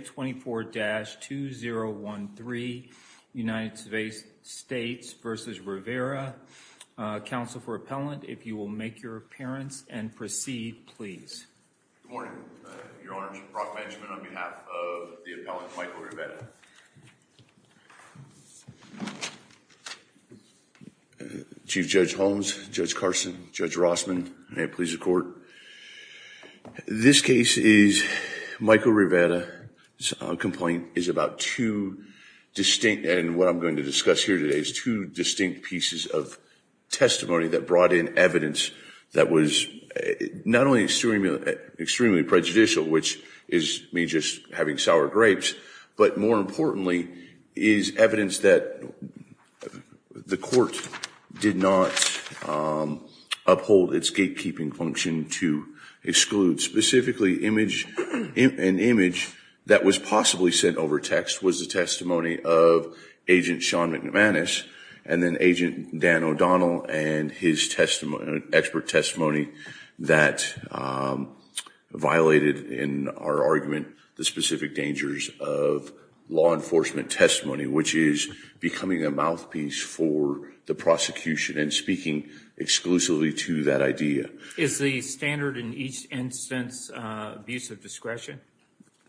24-2013 United States v. Rivera. Counsel for appellant if you will make your appearance and proceed please. Chief Judge Holmes, Judge Carson, Judge Rossman may it please the court. This case is Michael Rivera's complaint is about two distinct and what I'm going to discuss here today is two distinct pieces of testimony that brought in evidence that was not only extremely prejudicial which is me just having sour grapes but more importantly is evidence that the court did not uphold its gatekeeping function to exclude specifically image an image that was possibly sent over text was the testimony of agent Sean McManus and then agent Dan O'Donnell and his testimony expert testimony that violated in our argument the specific dangers of law enforcement testimony which is becoming a mouthpiece for the prosecution and speaking exclusively to that idea. Is the standard in each instance abuse of discretion?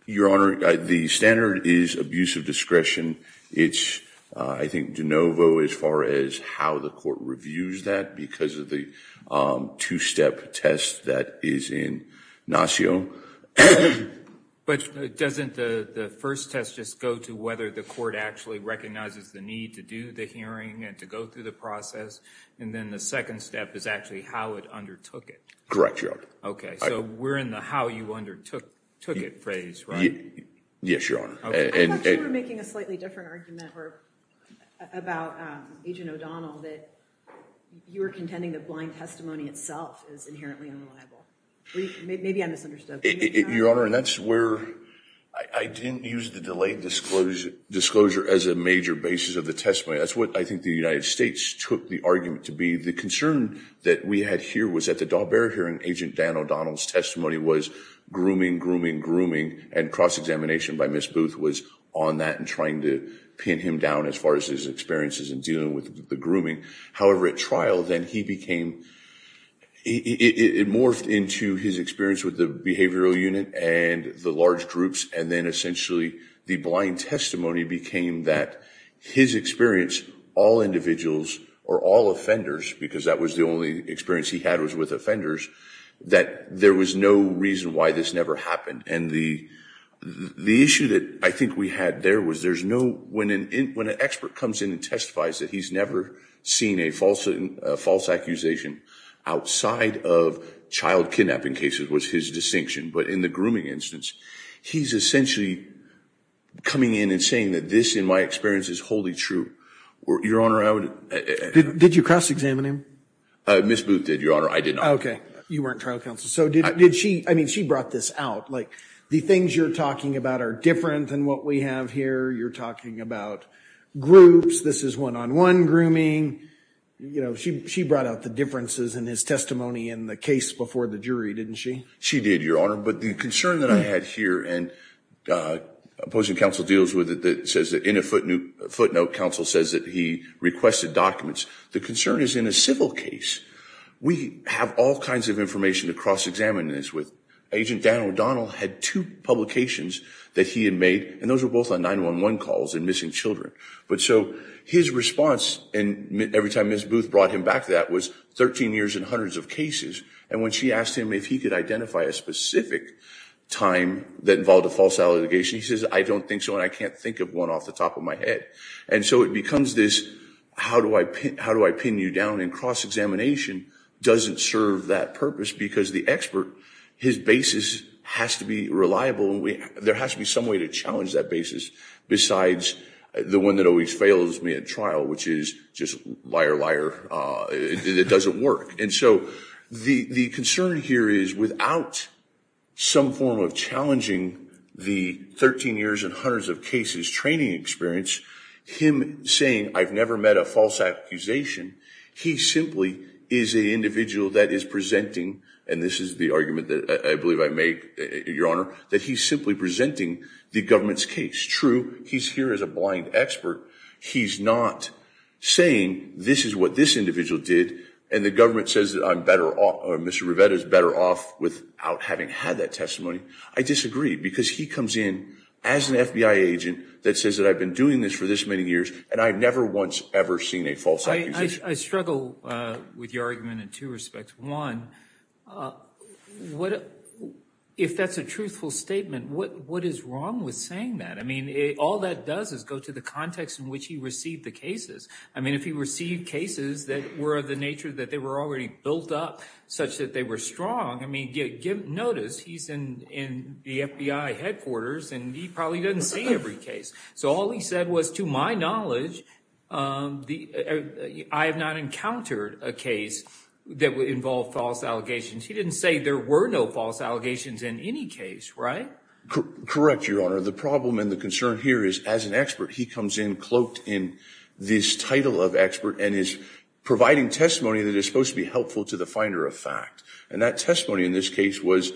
Your Honor the standard is abuse of discretion it's I think de novo as far as how the court reviews that because of the two-step test that is in But doesn't the first test just go to whether the court actually recognizes the need to do the hearing and to go through the process and then the second step is actually how it undertook it? Correct Your Honor. Okay so we're in the how you undertook took it phrase right? Yes Your Honor. I thought you were making a slightly different argument about agent O'Donnell that you were contending the blind testimony itself is inherently unreliable. Maybe I misunderstood. Your Honor that's where I didn't use the delayed disclosure disclosure as a major basis of the testimony that's what I think the United States took the argument to be the concern that we had here was at the Daubert hearing agent Dan O'Donnell's testimony was grooming grooming grooming and cross-examination by Miss Booth was on that and trying to pin him down as far as his experiences in dealing with the grooming however at trial then he became it morphed into his experience with the behavioral unit and the large groups and then essentially the blind testimony became that his experience all individuals or all offenders because that was the only experience he had was with offenders that there was no reason why this never happened and the the issue that I think we had there was there's no when an expert comes in and testifies that he's never seen a false false accusation outside of child kidnapping cases was his distinction but in the grooming instance he's essentially coming in and saying that this in my experience is wholly true. Your Honor I would... Did you cross-examine him? Miss Booth did Your Honor I did not. Okay you weren't trial counsel so did she I mean she brought this out like the things you're talking about are different than what we have here you're talking about groups this is one-on-one grooming you know she brought out the differences in his testimony in the case before the jury didn't she? She did Your Honor but the concern that I had here and opposing counsel deals with it that says that in a footnote counsel says that he requested documents the concern is in a civil case we have all kinds of information to cross-examine this with. Agent Dan O'Donnell had two publications that he had made and those were both on 9-1-1 calls and missing children but so his response and every time Miss Booth brought him back that was 13 years and hundreds of cases and when she asked him if he could identify a specific time that involved a false allegation he says I don't think so and I can't think of one off the top of my head and so it becomes this how do I pin how do I pin you down and cross-examination doesn't serve that purpose because the expert his basis has to be reliable there has to be some way to challenge that basis besides the one that always fails me at trial which is just liar liar it doesn't work and so the the concern here is without some form of challenging the 13 years and hundreds of cases training experience him saying I've never met a false accusation he simply is an individual that is presenting and this is the argument that I believe I make your honor that he's simply presenting the government's case true he's here as a blind expert he's not saying this is what this individual did and the government says that I'm better off mr. Rivetta is better off without having had that testimony I disagree because he comes in as an FBI agent that says that I've been doing this for this many years and I've never once ever seen a false I struggle with your argument in two aspects one what if that's a truthful statement what what is wrong with saying that I mean it all that does is go to the context in which he received the cases I mean if he received cases that were of the nature that they were already built up such that they were strong I mean get give notice he's in in the FBI headquarters and he probably doesn't see every case so all he said was to my knowledge I have not encountered a case that would involve false allegations he didn't say there were no false allegations in any case right correct your honor the problem and the concern here is as an expert he comes in cloaked in this title of expert and is providing testimony that is supposed to be helpful to the finder of fact and that testimony in this case was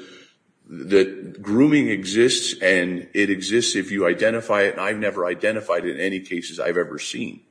that grooming exists and it exists if you identify it I've never identified in any cases I've ever seen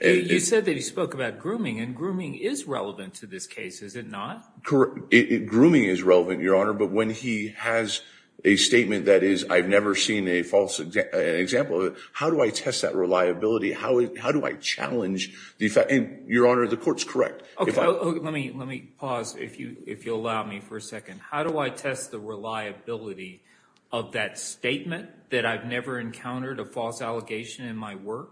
you said that he spoke about grooming and grooming is relevant to this case is it not correct it grooming is relevant your honor but when he has a statement that is I've never seen a false example how do I test that reliability how how do I challenge the effect and your honor the courts correct okay let me let me pause if you if you allow me for a second how do I test the reliability of that statement that I've never encountered a false allegation in my work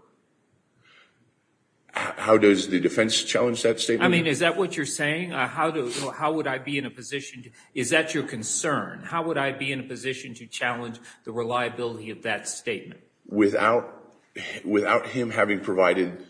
how does the defense challenge that statement I mean is that what you're saying how do how would I be in a position is that your concern how would I be in a position to challenge the reliability of that statement without without him having provided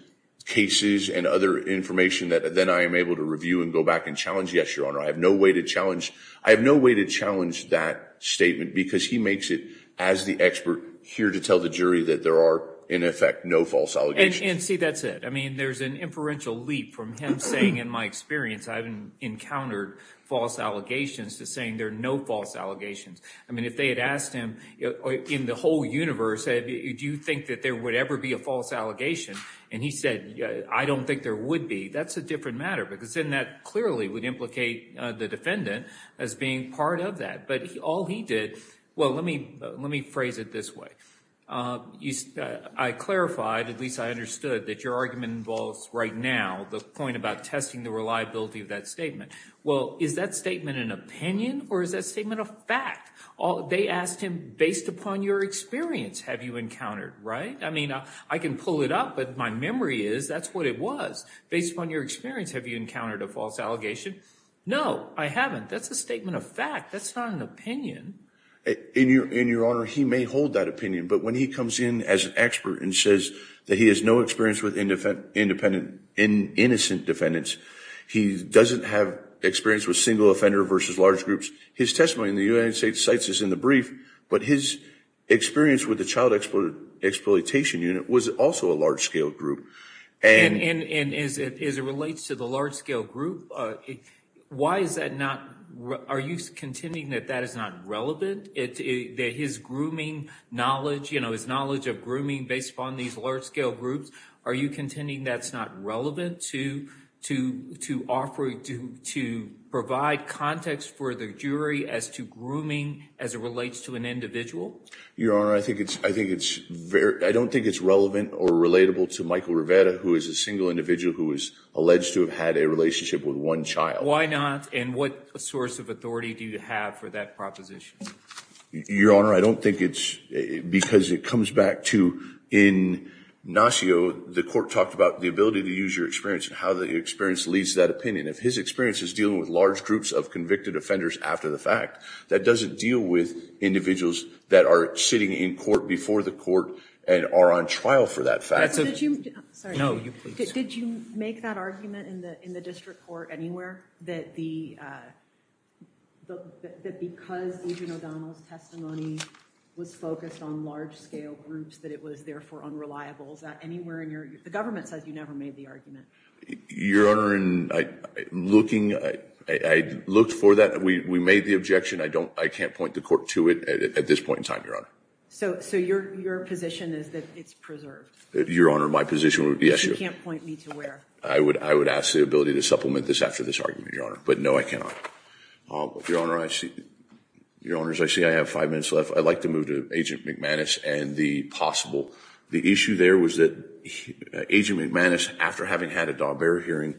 cases and other information that then I am able to review and go back and challenge yes your honor I have no way to challenge I have no way to challenge that statement because he makes it as the expert here to tell the jury that there are in effect no false allegations and see that's it I mean there's an inferential leap from him saying in my experience I've encountered false allegations to saying there are no false allegations I mean if they had asked him in the whole universe said do you think that there would ever be a false allegation and he said yeah I don't think there would be that's a different matter because then that clearly would implicate the defendant as being part of that but he all he did well let me let me phrase it this way I clarified at least I understood that your argument involves right now the point about testing the reliability of that statement well is that statement an opinion or is that statement of fact all they asked him based upon your experience have you encountered right I mean I can pull it up but my memory is that's what it was based on your experience have you encountered a false allegation no I haven't that's a statement of fact that's not an opinion in your in your honor he may hold that opinion but when he comes in as an expert and says that he has no experience with independent independent in innocent defendants he doesn't have experience with single offender versus large groups his testimony in the United States sites is in the brief but his experience with the child exploited exploitation unit was also a large-scale group and in is it is it relates to the large-scale group why is that not are you contending that that is not relevant it is grooming knowledge you know his knowledge of grooming based upon these large-scale groups are you contending that's not relevant to to to offer it to to provide context for the jury as to grooming as it relates to an individual your honor I think it's I think it's very I don't think it's relevant or relatable to Michael Rivera who is a single individual who is alleged to have had a relationship with one child why not and what a source of authority do you have for that proposition your honor I don't think it's because it comes back to in Nacio the court talked about the ability to use your experience and how the experience leads that opinion if his experience is dealing with large groups of convicted offenders after the fact that doesn't deal with individuals that are sitting in court before the court and are on trial for that fact did you make that argument in the in the district court anywhere that the was focused on large-scale groups that it was there for unreliables that anywhere in your the government says you never made the argument your honor and I looking I looked for that we made the objection I don't I can't point the court to it at this point in time your honor so so your your position is that it's preserved your honor my position yes you can't point me to where I would I would ask the ability to supplement this after this argument your honor but no I cannot your honor I see your honors I see I have five minutes left I'd like to move to agent McManus and the possible the issue there was that agent McManus after having had a dog hearing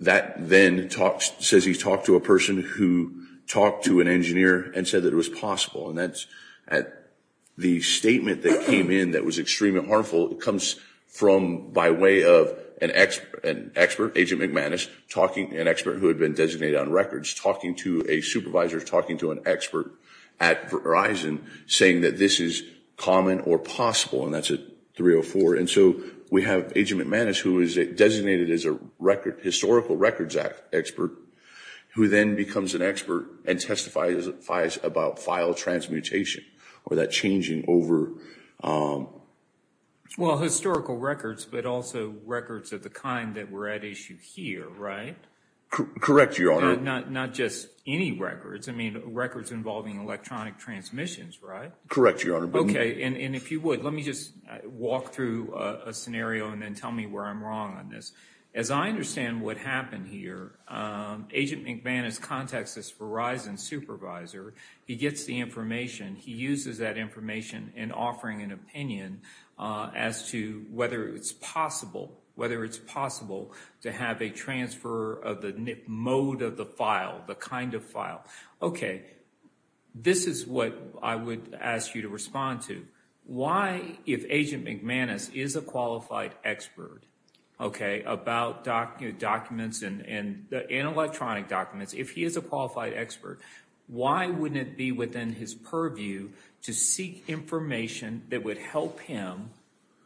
that then talks says he's talked to a person who talked to an engineer and said that it was possible and that's at the statement that came in that was extremely harmful it comes from by way of an expert an expert agent McManus talking an expert who had been designated on records talking to a supervisor talking to an expert at Verizon saying that this is common or possible and that's it 304 and so we have agent McManus who is it designated as a record historical records act expert who then becomes an expert and testifies about file transmutation or that changing over well historical records but also records of the kind that we're at issue here right correct your honor not not just any records I mean records involving electronic transmissions right correct your honor okay and if you would let me just walk through a scenario and then tell me where I'm wrong on this as I understand what happened here agent McManus contacts this Verizon supervisor he gets the information he uses that information in offering an opinion as to whether it's possible whether it's possible to have a transfer of the mode of the file the kind of file okay this is what I would ask you to respond to why if agent McManus is a qualified expert okay about documents and in electronic documents if he is a qualified expert why wouldn't it be within his purview to seek information that would help him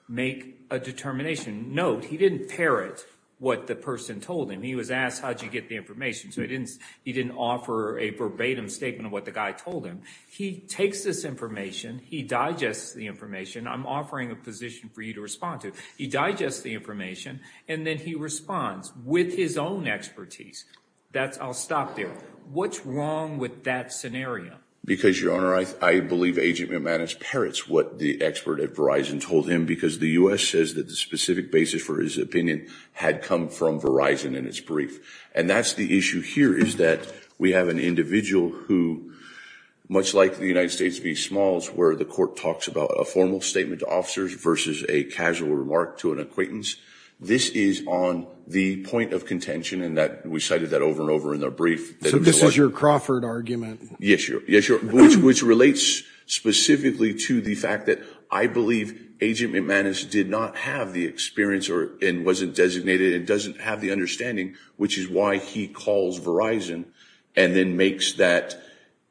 make a determination note he didn't parrot what the person told him he was asked how did you get the information so he didn't offer a verbatim statement of what the guy told him he takes this information he digests the information I'm offering a position for you to respond to he digests the information and then he responds with his own expertise that's I'll stop there what's wrong with that scenario because your honor I believe agent McManus parrots what the expert at Verizon told him because the US says that the specific basis for his opinion had come from Verizon in its brief and that's the issue here is that we have an individual who much like the United States be smalls where the court talks about a formal statement to officers versus a casual remark to an acquaintance this is on the point of contention and that we cited that over and over in their brief so this is your Crawford argument yes you're yes you're which relates specifically to the fact that I believe agent McManus did not have the experience or in wasn't designated it doesn't have the understanding which is why he calls Verizon and then makes that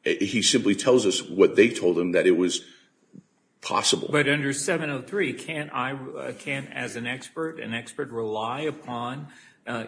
he simply tells us what they told him that it was possible but under 703 can't I can't as an expert an expert rely upon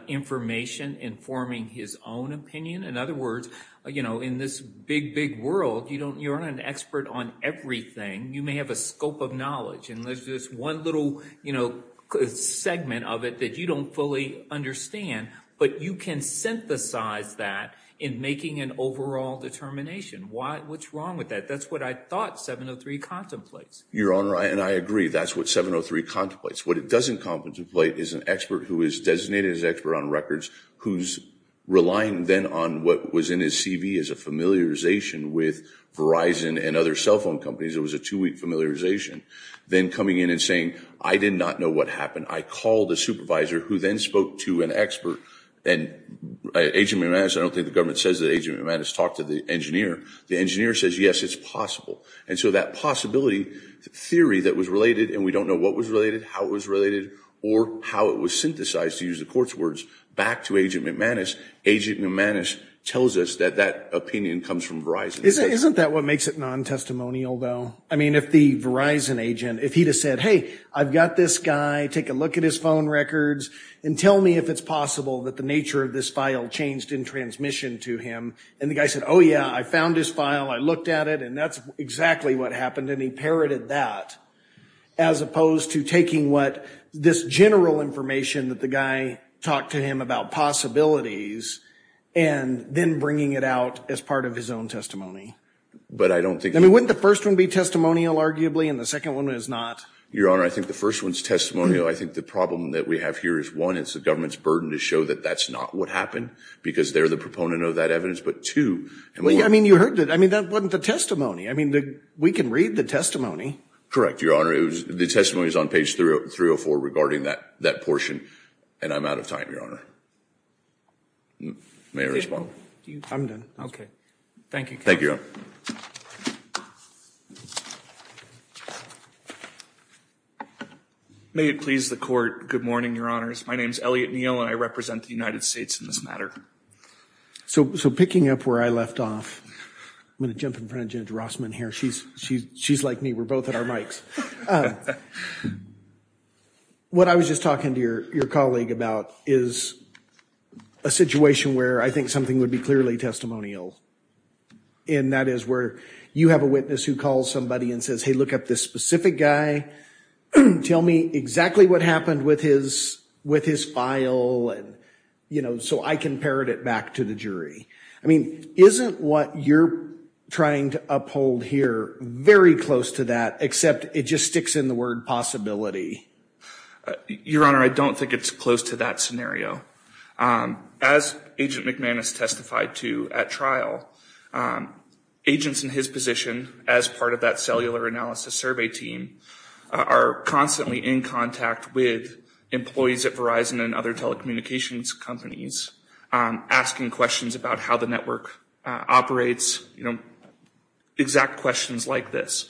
information informing his own opinion in other words you know in this big big world you don't you're an expert on everything you may have a scope of knowledge and there's this one little you know segment of it that you don't fully understand but you can synthesize that in making an overall determination why what's wrong with that that's what I thought 703 contemplates your honor and I agree that's what 703 contemplates what it doesn't contemplate is an expert who is designated as expert on records who's relying then on what was in his CV as a familiarization with Verizon and other cell phone companies it was a two familiarization then coming in and saying I did not know what happened I called the supervisor who then spoke to an expert and agent I don't think the government says that agent has talked to the engineer the engineer says yes it's possible and so that possibility theory that was related and we don't know what was related how it was related or how it was synthesized to use the court's words back to agent McManus agent McManus tells us that that opinion comes from Verizon isn't that what makes it non-testimonial though I mean if the Verizon agent if he just said hey I've got this guy take a look at his phone records and tell me if it's possible that the nature of this file changed in transmission to him and the guy said oh yeah I found his file I looked at it and that's exactly what happened and he parroted that as opposed to taking what this general information that the guy talked to him about possibilities and then bringing it out as part of his own testimony but I don't think I mean wouldn't the first one be testimonial arguably and the second one is not your honor I think the first one's testimonial I think the problem that we have here is one it's the government's burden to show that that's not what happened because they're the proponent of that evidence but to me I mean you heard that I mean that wasn't the testimony I mean we can read the testimony correct your honor it was the testimonies on page 304 regarding that portion and I'm out of time your honor may respond okay thank you thank you may it please the court good morning your honors my name is Elliot Neil and I represent the United States in this matter so so picking up where I left off I'm gonna jump in front of Judge Rossman here she's she's she's like me we're what I was just talking to your your colleague about is a situation where I think something would be clearly testimonial and that is where you have a witness who calls somebody and says hey look up this specific guy tell me exactly what happened with his with his file and you know so I can parrot it back to the jury I mean isn't what you're trying to uphold here very close to that except it just sticks in the word possibility your honor I don't think it's close to that scenario as agent McMahon has testified to at trial agents in his position as part of that cellular analysis survey team are constantly in contact with employees at Verizon and other telecommunications companies asking questions about how the network operates you know exact questions like this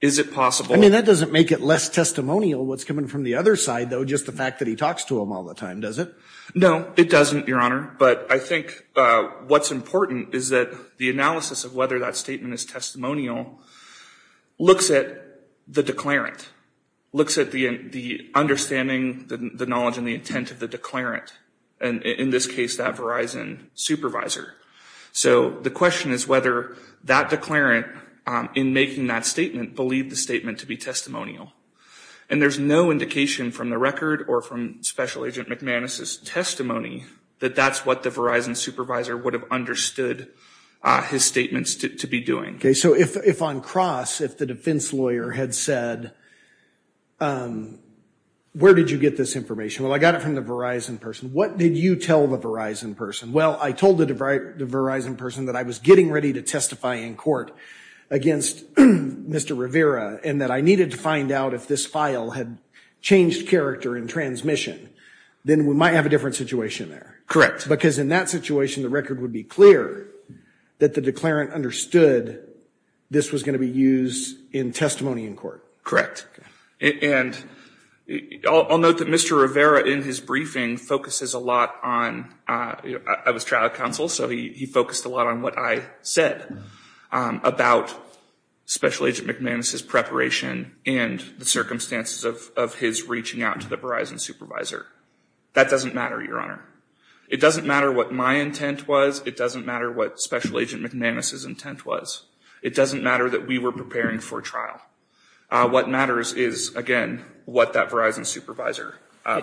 is it possible I mean that doesn't make it less testimonial what's coming from the other side though just the fact that he talks to him all the time does it no it doesn't your honor but I think what's important is that the analysis of whether that statement is testimonial looks at the declarant looks at the the understanding the knowledge and the intent of the declarant and in this case that Verizon supervisor so the question is whether that declarant in making that statement believe the statement to be testimonial and there's no indication from the record or from special agent McManus's testimony that that's what the Verizon supervisor would have understood his statements to be doing okay so if if on cross if the defense lawyer had said where did you get this information well I got it from the Verizon person what did you tell the Verizon person well I told it right the Verizon person that I was getting ready to testify in court against mr. Rivera and that I needed to find out if this file had changed character in transmission then we might have a different situation there correct because in that situation the record would be clear that the declarant understood this was going to be used in testimony in court correct and I'll note that mr. Rivera in his briefing focuses a lot on I was trial counsel so he focused a lot on what I said about special agent McManus's preparation and the circumstances of his reaching out to the Verizon supervisor that doesn't matter your honor it doesn't matter what my intent was it doesn't matter what special agent McManus's intent was it doesn't matter that we were preparing for trial what matters is again what that Verizon supervisor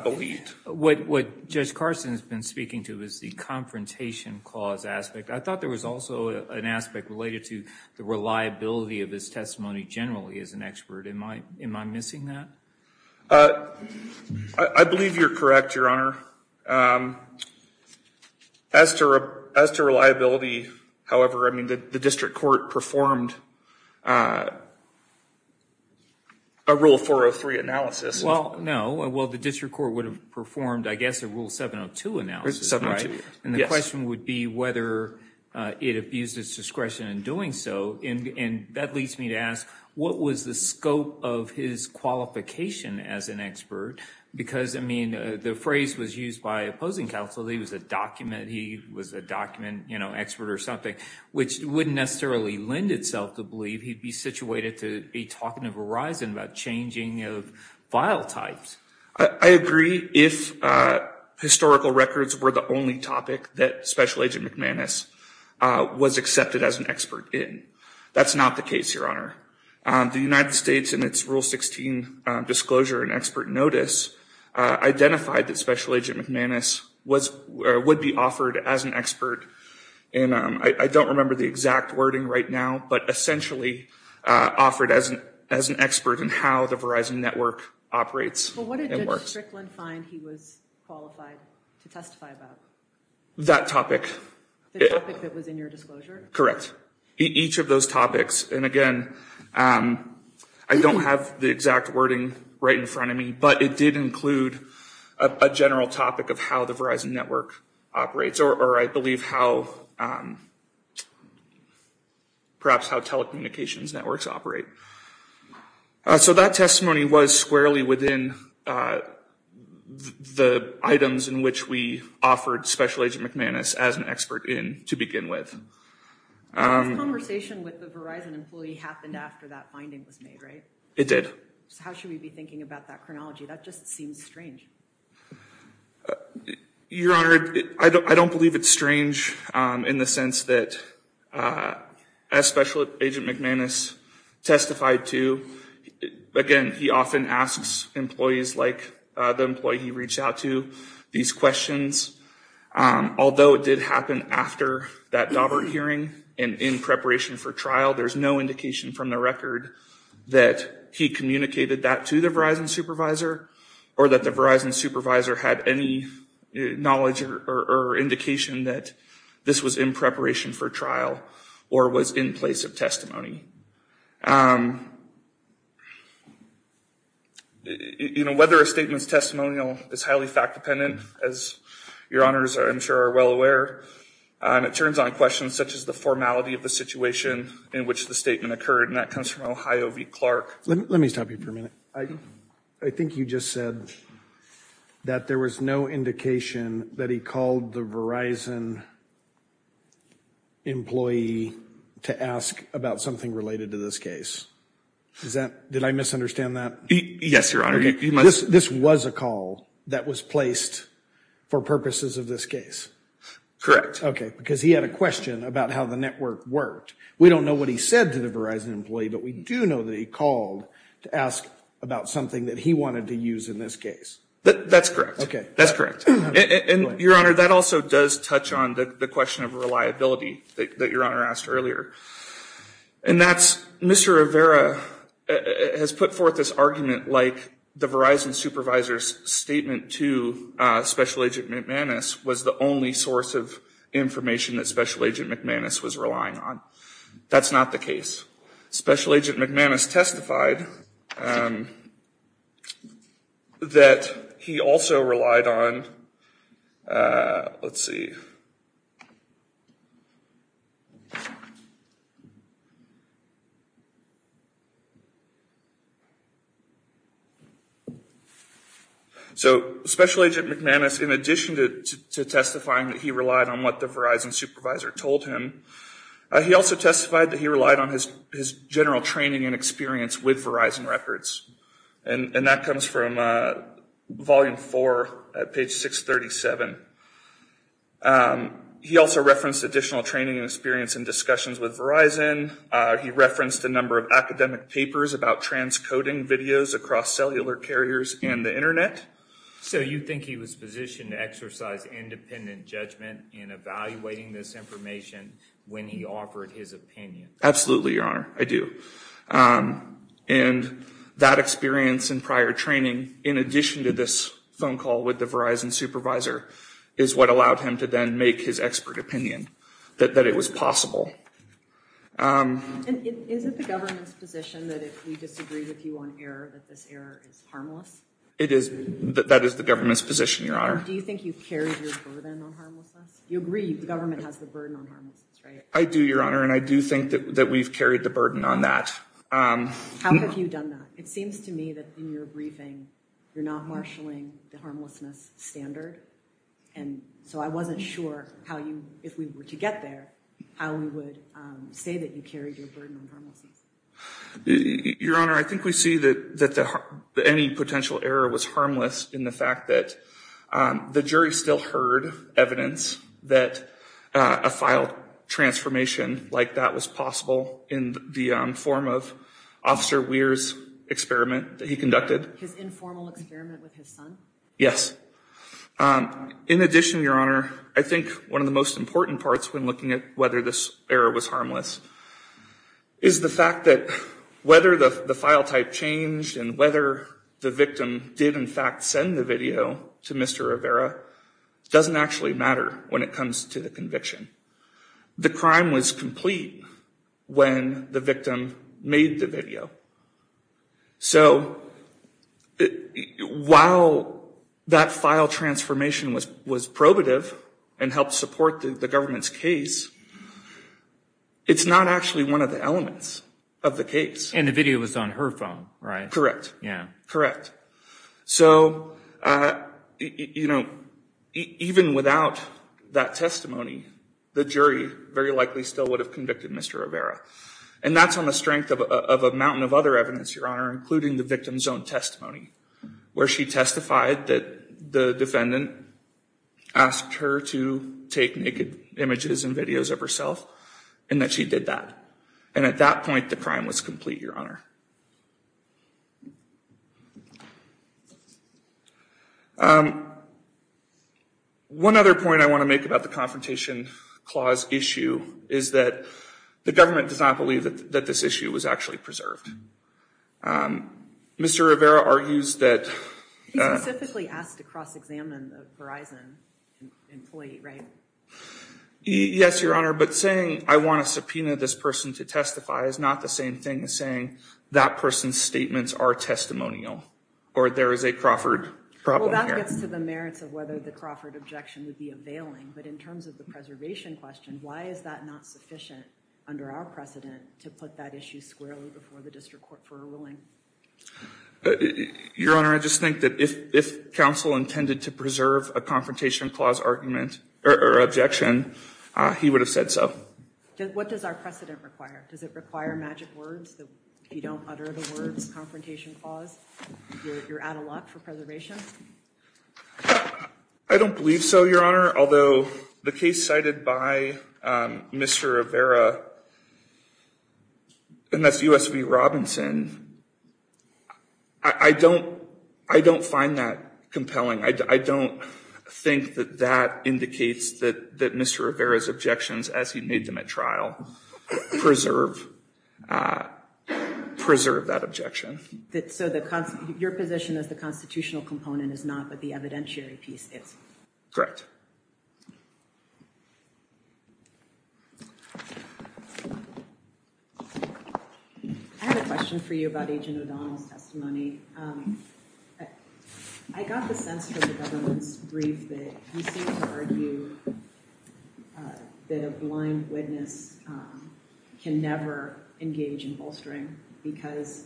believed what judge Carson has been speaking to is the confrontation clause aspect I thought there was also an aspect related to the reliability of this testimony generally as an expert in my am I missing that I believe you're correct your honor as to as to reliability however I mean the district court performed a rule 403 analysis well no well the district court would have performed I guess a rule 702 analysis and the question would be whether it abused its discretion in doing so in bed leads me to ask what was the scope of his qualification as an expert because I mean the phrase was used by opposing counsel he was a document he was a document you know expert or something which wouldn't necessarily lend itself to believe he'd be situated to be talking to Verizon about changing of file types I agree if historical records were the only topic that special agent McManus was accepted as an expert in that's not the case your honor the United States and its rule 16 disclosure and expert notice identified that special agent McManus was would be offered as an expert and I don't remember the exact wording right now but essentially offered as an as an expert and how the Verizon Network operates that topic correct each of those topics and again I don't have the exact wording right in front of me but it did include a general topic of how the Verizon Network operates or I believe how perhaps how telecommunications networks operate so that testimony was squarely within the items in which we offered special agent McManus as an expert in to begin with it did how should we be honored I don't believe it's strange in the sense that a special agent McManus testified to again he often asks employees like the employee he reached out to these questions although it did happen after that Daubert hearing and in preparation for trial there's no indication from the record that he communicated that to the Verizon supervisor or that the Verizon supervisor had any knowledge or indication that this was in preparation for trial or was in place of testimony you know whether a statements testimonial is highly fact-dependent as your honors are I'm sure are well aware and it turns on questions such as the formality of the situation in which the statement occurred and that comes from Ohio v. Clark let me stop you for a second I think you just said that there was no indication that he called the Verizon employee to ask about something related to this case is that did I misunderstand that yes your honor this this was a call that was placed for purposes of this case correct okay because he had a question about how the network worked we don't know what he said to the Verizon employee but we do know that he called to ask about something that he wanted to use in this case but that's correct okay that's correct and your honor that also does touch on the question of reliability that your honor asked earlier and that's mr. Rivera has put forth this argument like the Verizon supervisor's statement to special agent McManus was the only source of information that special agent McManus was relying on that's not the case special agent McManus testified that he also relied on let's see so special agent McManus in addition to testifying that he relied on what the Verizon supervisor told him he also testified that he relied on his his general training and experience with Verizon records and and that comes from volume 4 at page 637 he also referenced additional training and experience and discussions with Verizon he referenced a number of academic papers about transcoding videos across cellular carriers and the internet so you think he was positioned to exercise independent judgment in evaluating this information when he offered his opinion absolutely your honor I do and that experience and prior training in addition to this phone call with the Verizon supervisor is what allowed him to then make his expert opinion that that it was possible it is that that is the government's position your honor I do your honor and I do think that that we've carried the burden on that it seems to me that in your briefing you're not marshaling the harmlessness standard and so I wasn't sure how you if we were to get there how we would say that you carry your burden your honor I think we see that that the any potential error was harmless in the fact that the jury still heard evidence that a file transformation like that was possible in the form of officer Weir's experiment that he conducted yes in addition your honor I think one of the most important parts when looking at whether this error was harmless is the fact that whether the file type changed and whether the victim did in fact send the video to Mr. Rivera doesn't actually matter when it comes to the conviction the crime was complete when the victim made the video so while that file transformation was was probative and helped support the government's case it's not actually one of the elements of the case and the video was on her phone right correct yeah correct so you know even without that testimony the jury very likely still would have convicted mr. Rivera and that's on the strength of a mountain of other evidence your honor including the victim's own testimony where she testified that the defendant asked her to take naked images and videos of herself and that she did that and at that point the crime was complete your honor one other point I want to make about the confrontation clause issue is that the government does not believe that that this issue was actually preserved mr. Rivera argues that yes your honor but saying I want to subpoena this person to testify is not the same thing as saying that person's statements are testimonial or there is a Crawford to the merits of whether the Crawford objection would be availing but in terms of the preservation question under our precedent to put that issue squarely before the district court for a ruling your honor I just think that if if counsel intended to preserve a confrontation clause argument or objection he would have said so what does our precedent require does it require magic words that you don't utter the words confrontation clause you're out of luck for preservation I don't believe so your honor although the case cited by mr. Rivera and that's USB Robinson I don't I don't find that compelling I don't think that that indicates that that mr. Rivera's objections as he made them at trial preserve preserve that objection that's so that comes your position as the constitutional component is not but the evidentiary piece it's correct I have a question for you about agent O'Donnell's testimony I got the sense that the government's brief that you seem to argue that a blind witness can never engage in bolstering because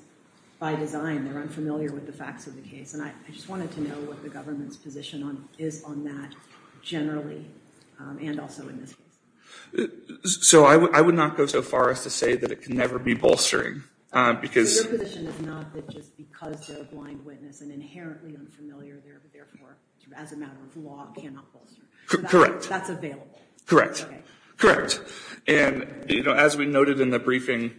by design they're unfamiliar with the facts of the case and I just wanted to know what the government's position on is on that generally and also in this case so I would not go so far as to say that it can never be bolstering because correct that's available correct correct and you know as we noted in the briefing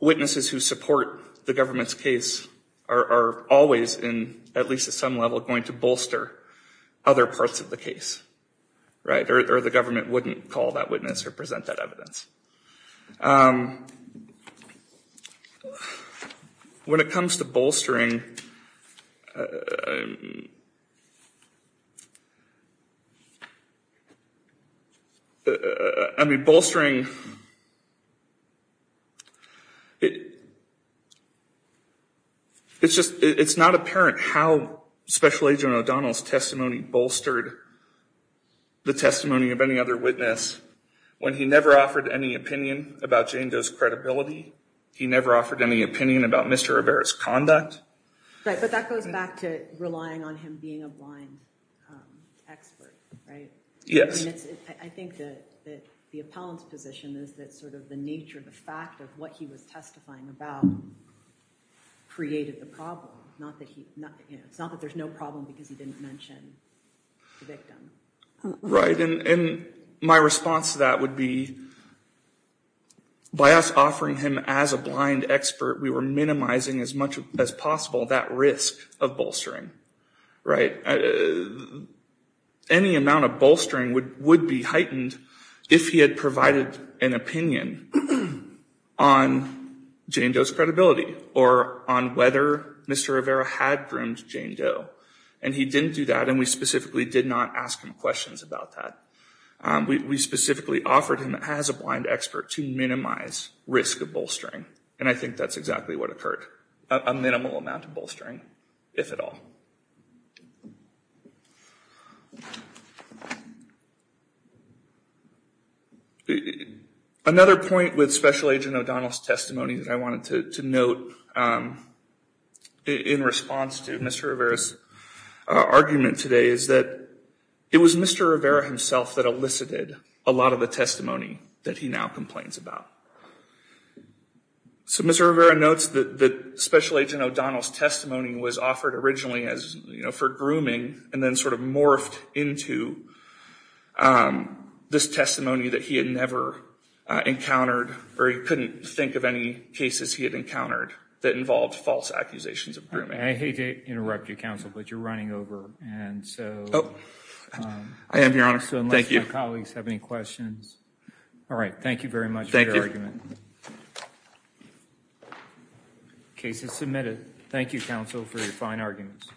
witnesses who support the government's case are always in at least at some level going to bolster other parts of the case right or the government wouldn't call that witness or present that evidence when it comes to bolstering I mean bolstering it it's just it's not apparent how special agent O'Donnell's testimony bolstered the testimony of any other witness when he never offered any opinion about Jane does credibility he never offered any opinion about mr. Rivera's conduct right and my response to that would be by us offering him as a blind expert we were minimizing as much as possible that risk of bolstering right any amount of bolstering would would be heightened if he had provided an opinion on Jane does credibility or on whether mr. Rivera had groomed Jane Doe and he didn't do that and we specifically did not ask him questions about that we specifically offered him as a blind expert to minimize risk of bolstering and I think that's exactly what occurred a minimal amount of bolstering if at all another point with special agent O'Donnell's testimony that I wanted to note in response to mr. Rivera's argument today is that it was mr. Rivera himself that elicited a lot of the testimony that he now complains about so mr. Rivera notes that the special agent O'Donnell's testimony was offered originally as you know for grooming and then sort of morphed into this testimony that he had never encountered or he couldn't think of any cases he had encountered that involved false accusations of grooming I hate to interrupt you counsel but you're running over and so I have your honor so thank you colleagues have any questions all right thank you very much thank your argument cases submitted thank you counsel for your fine arguments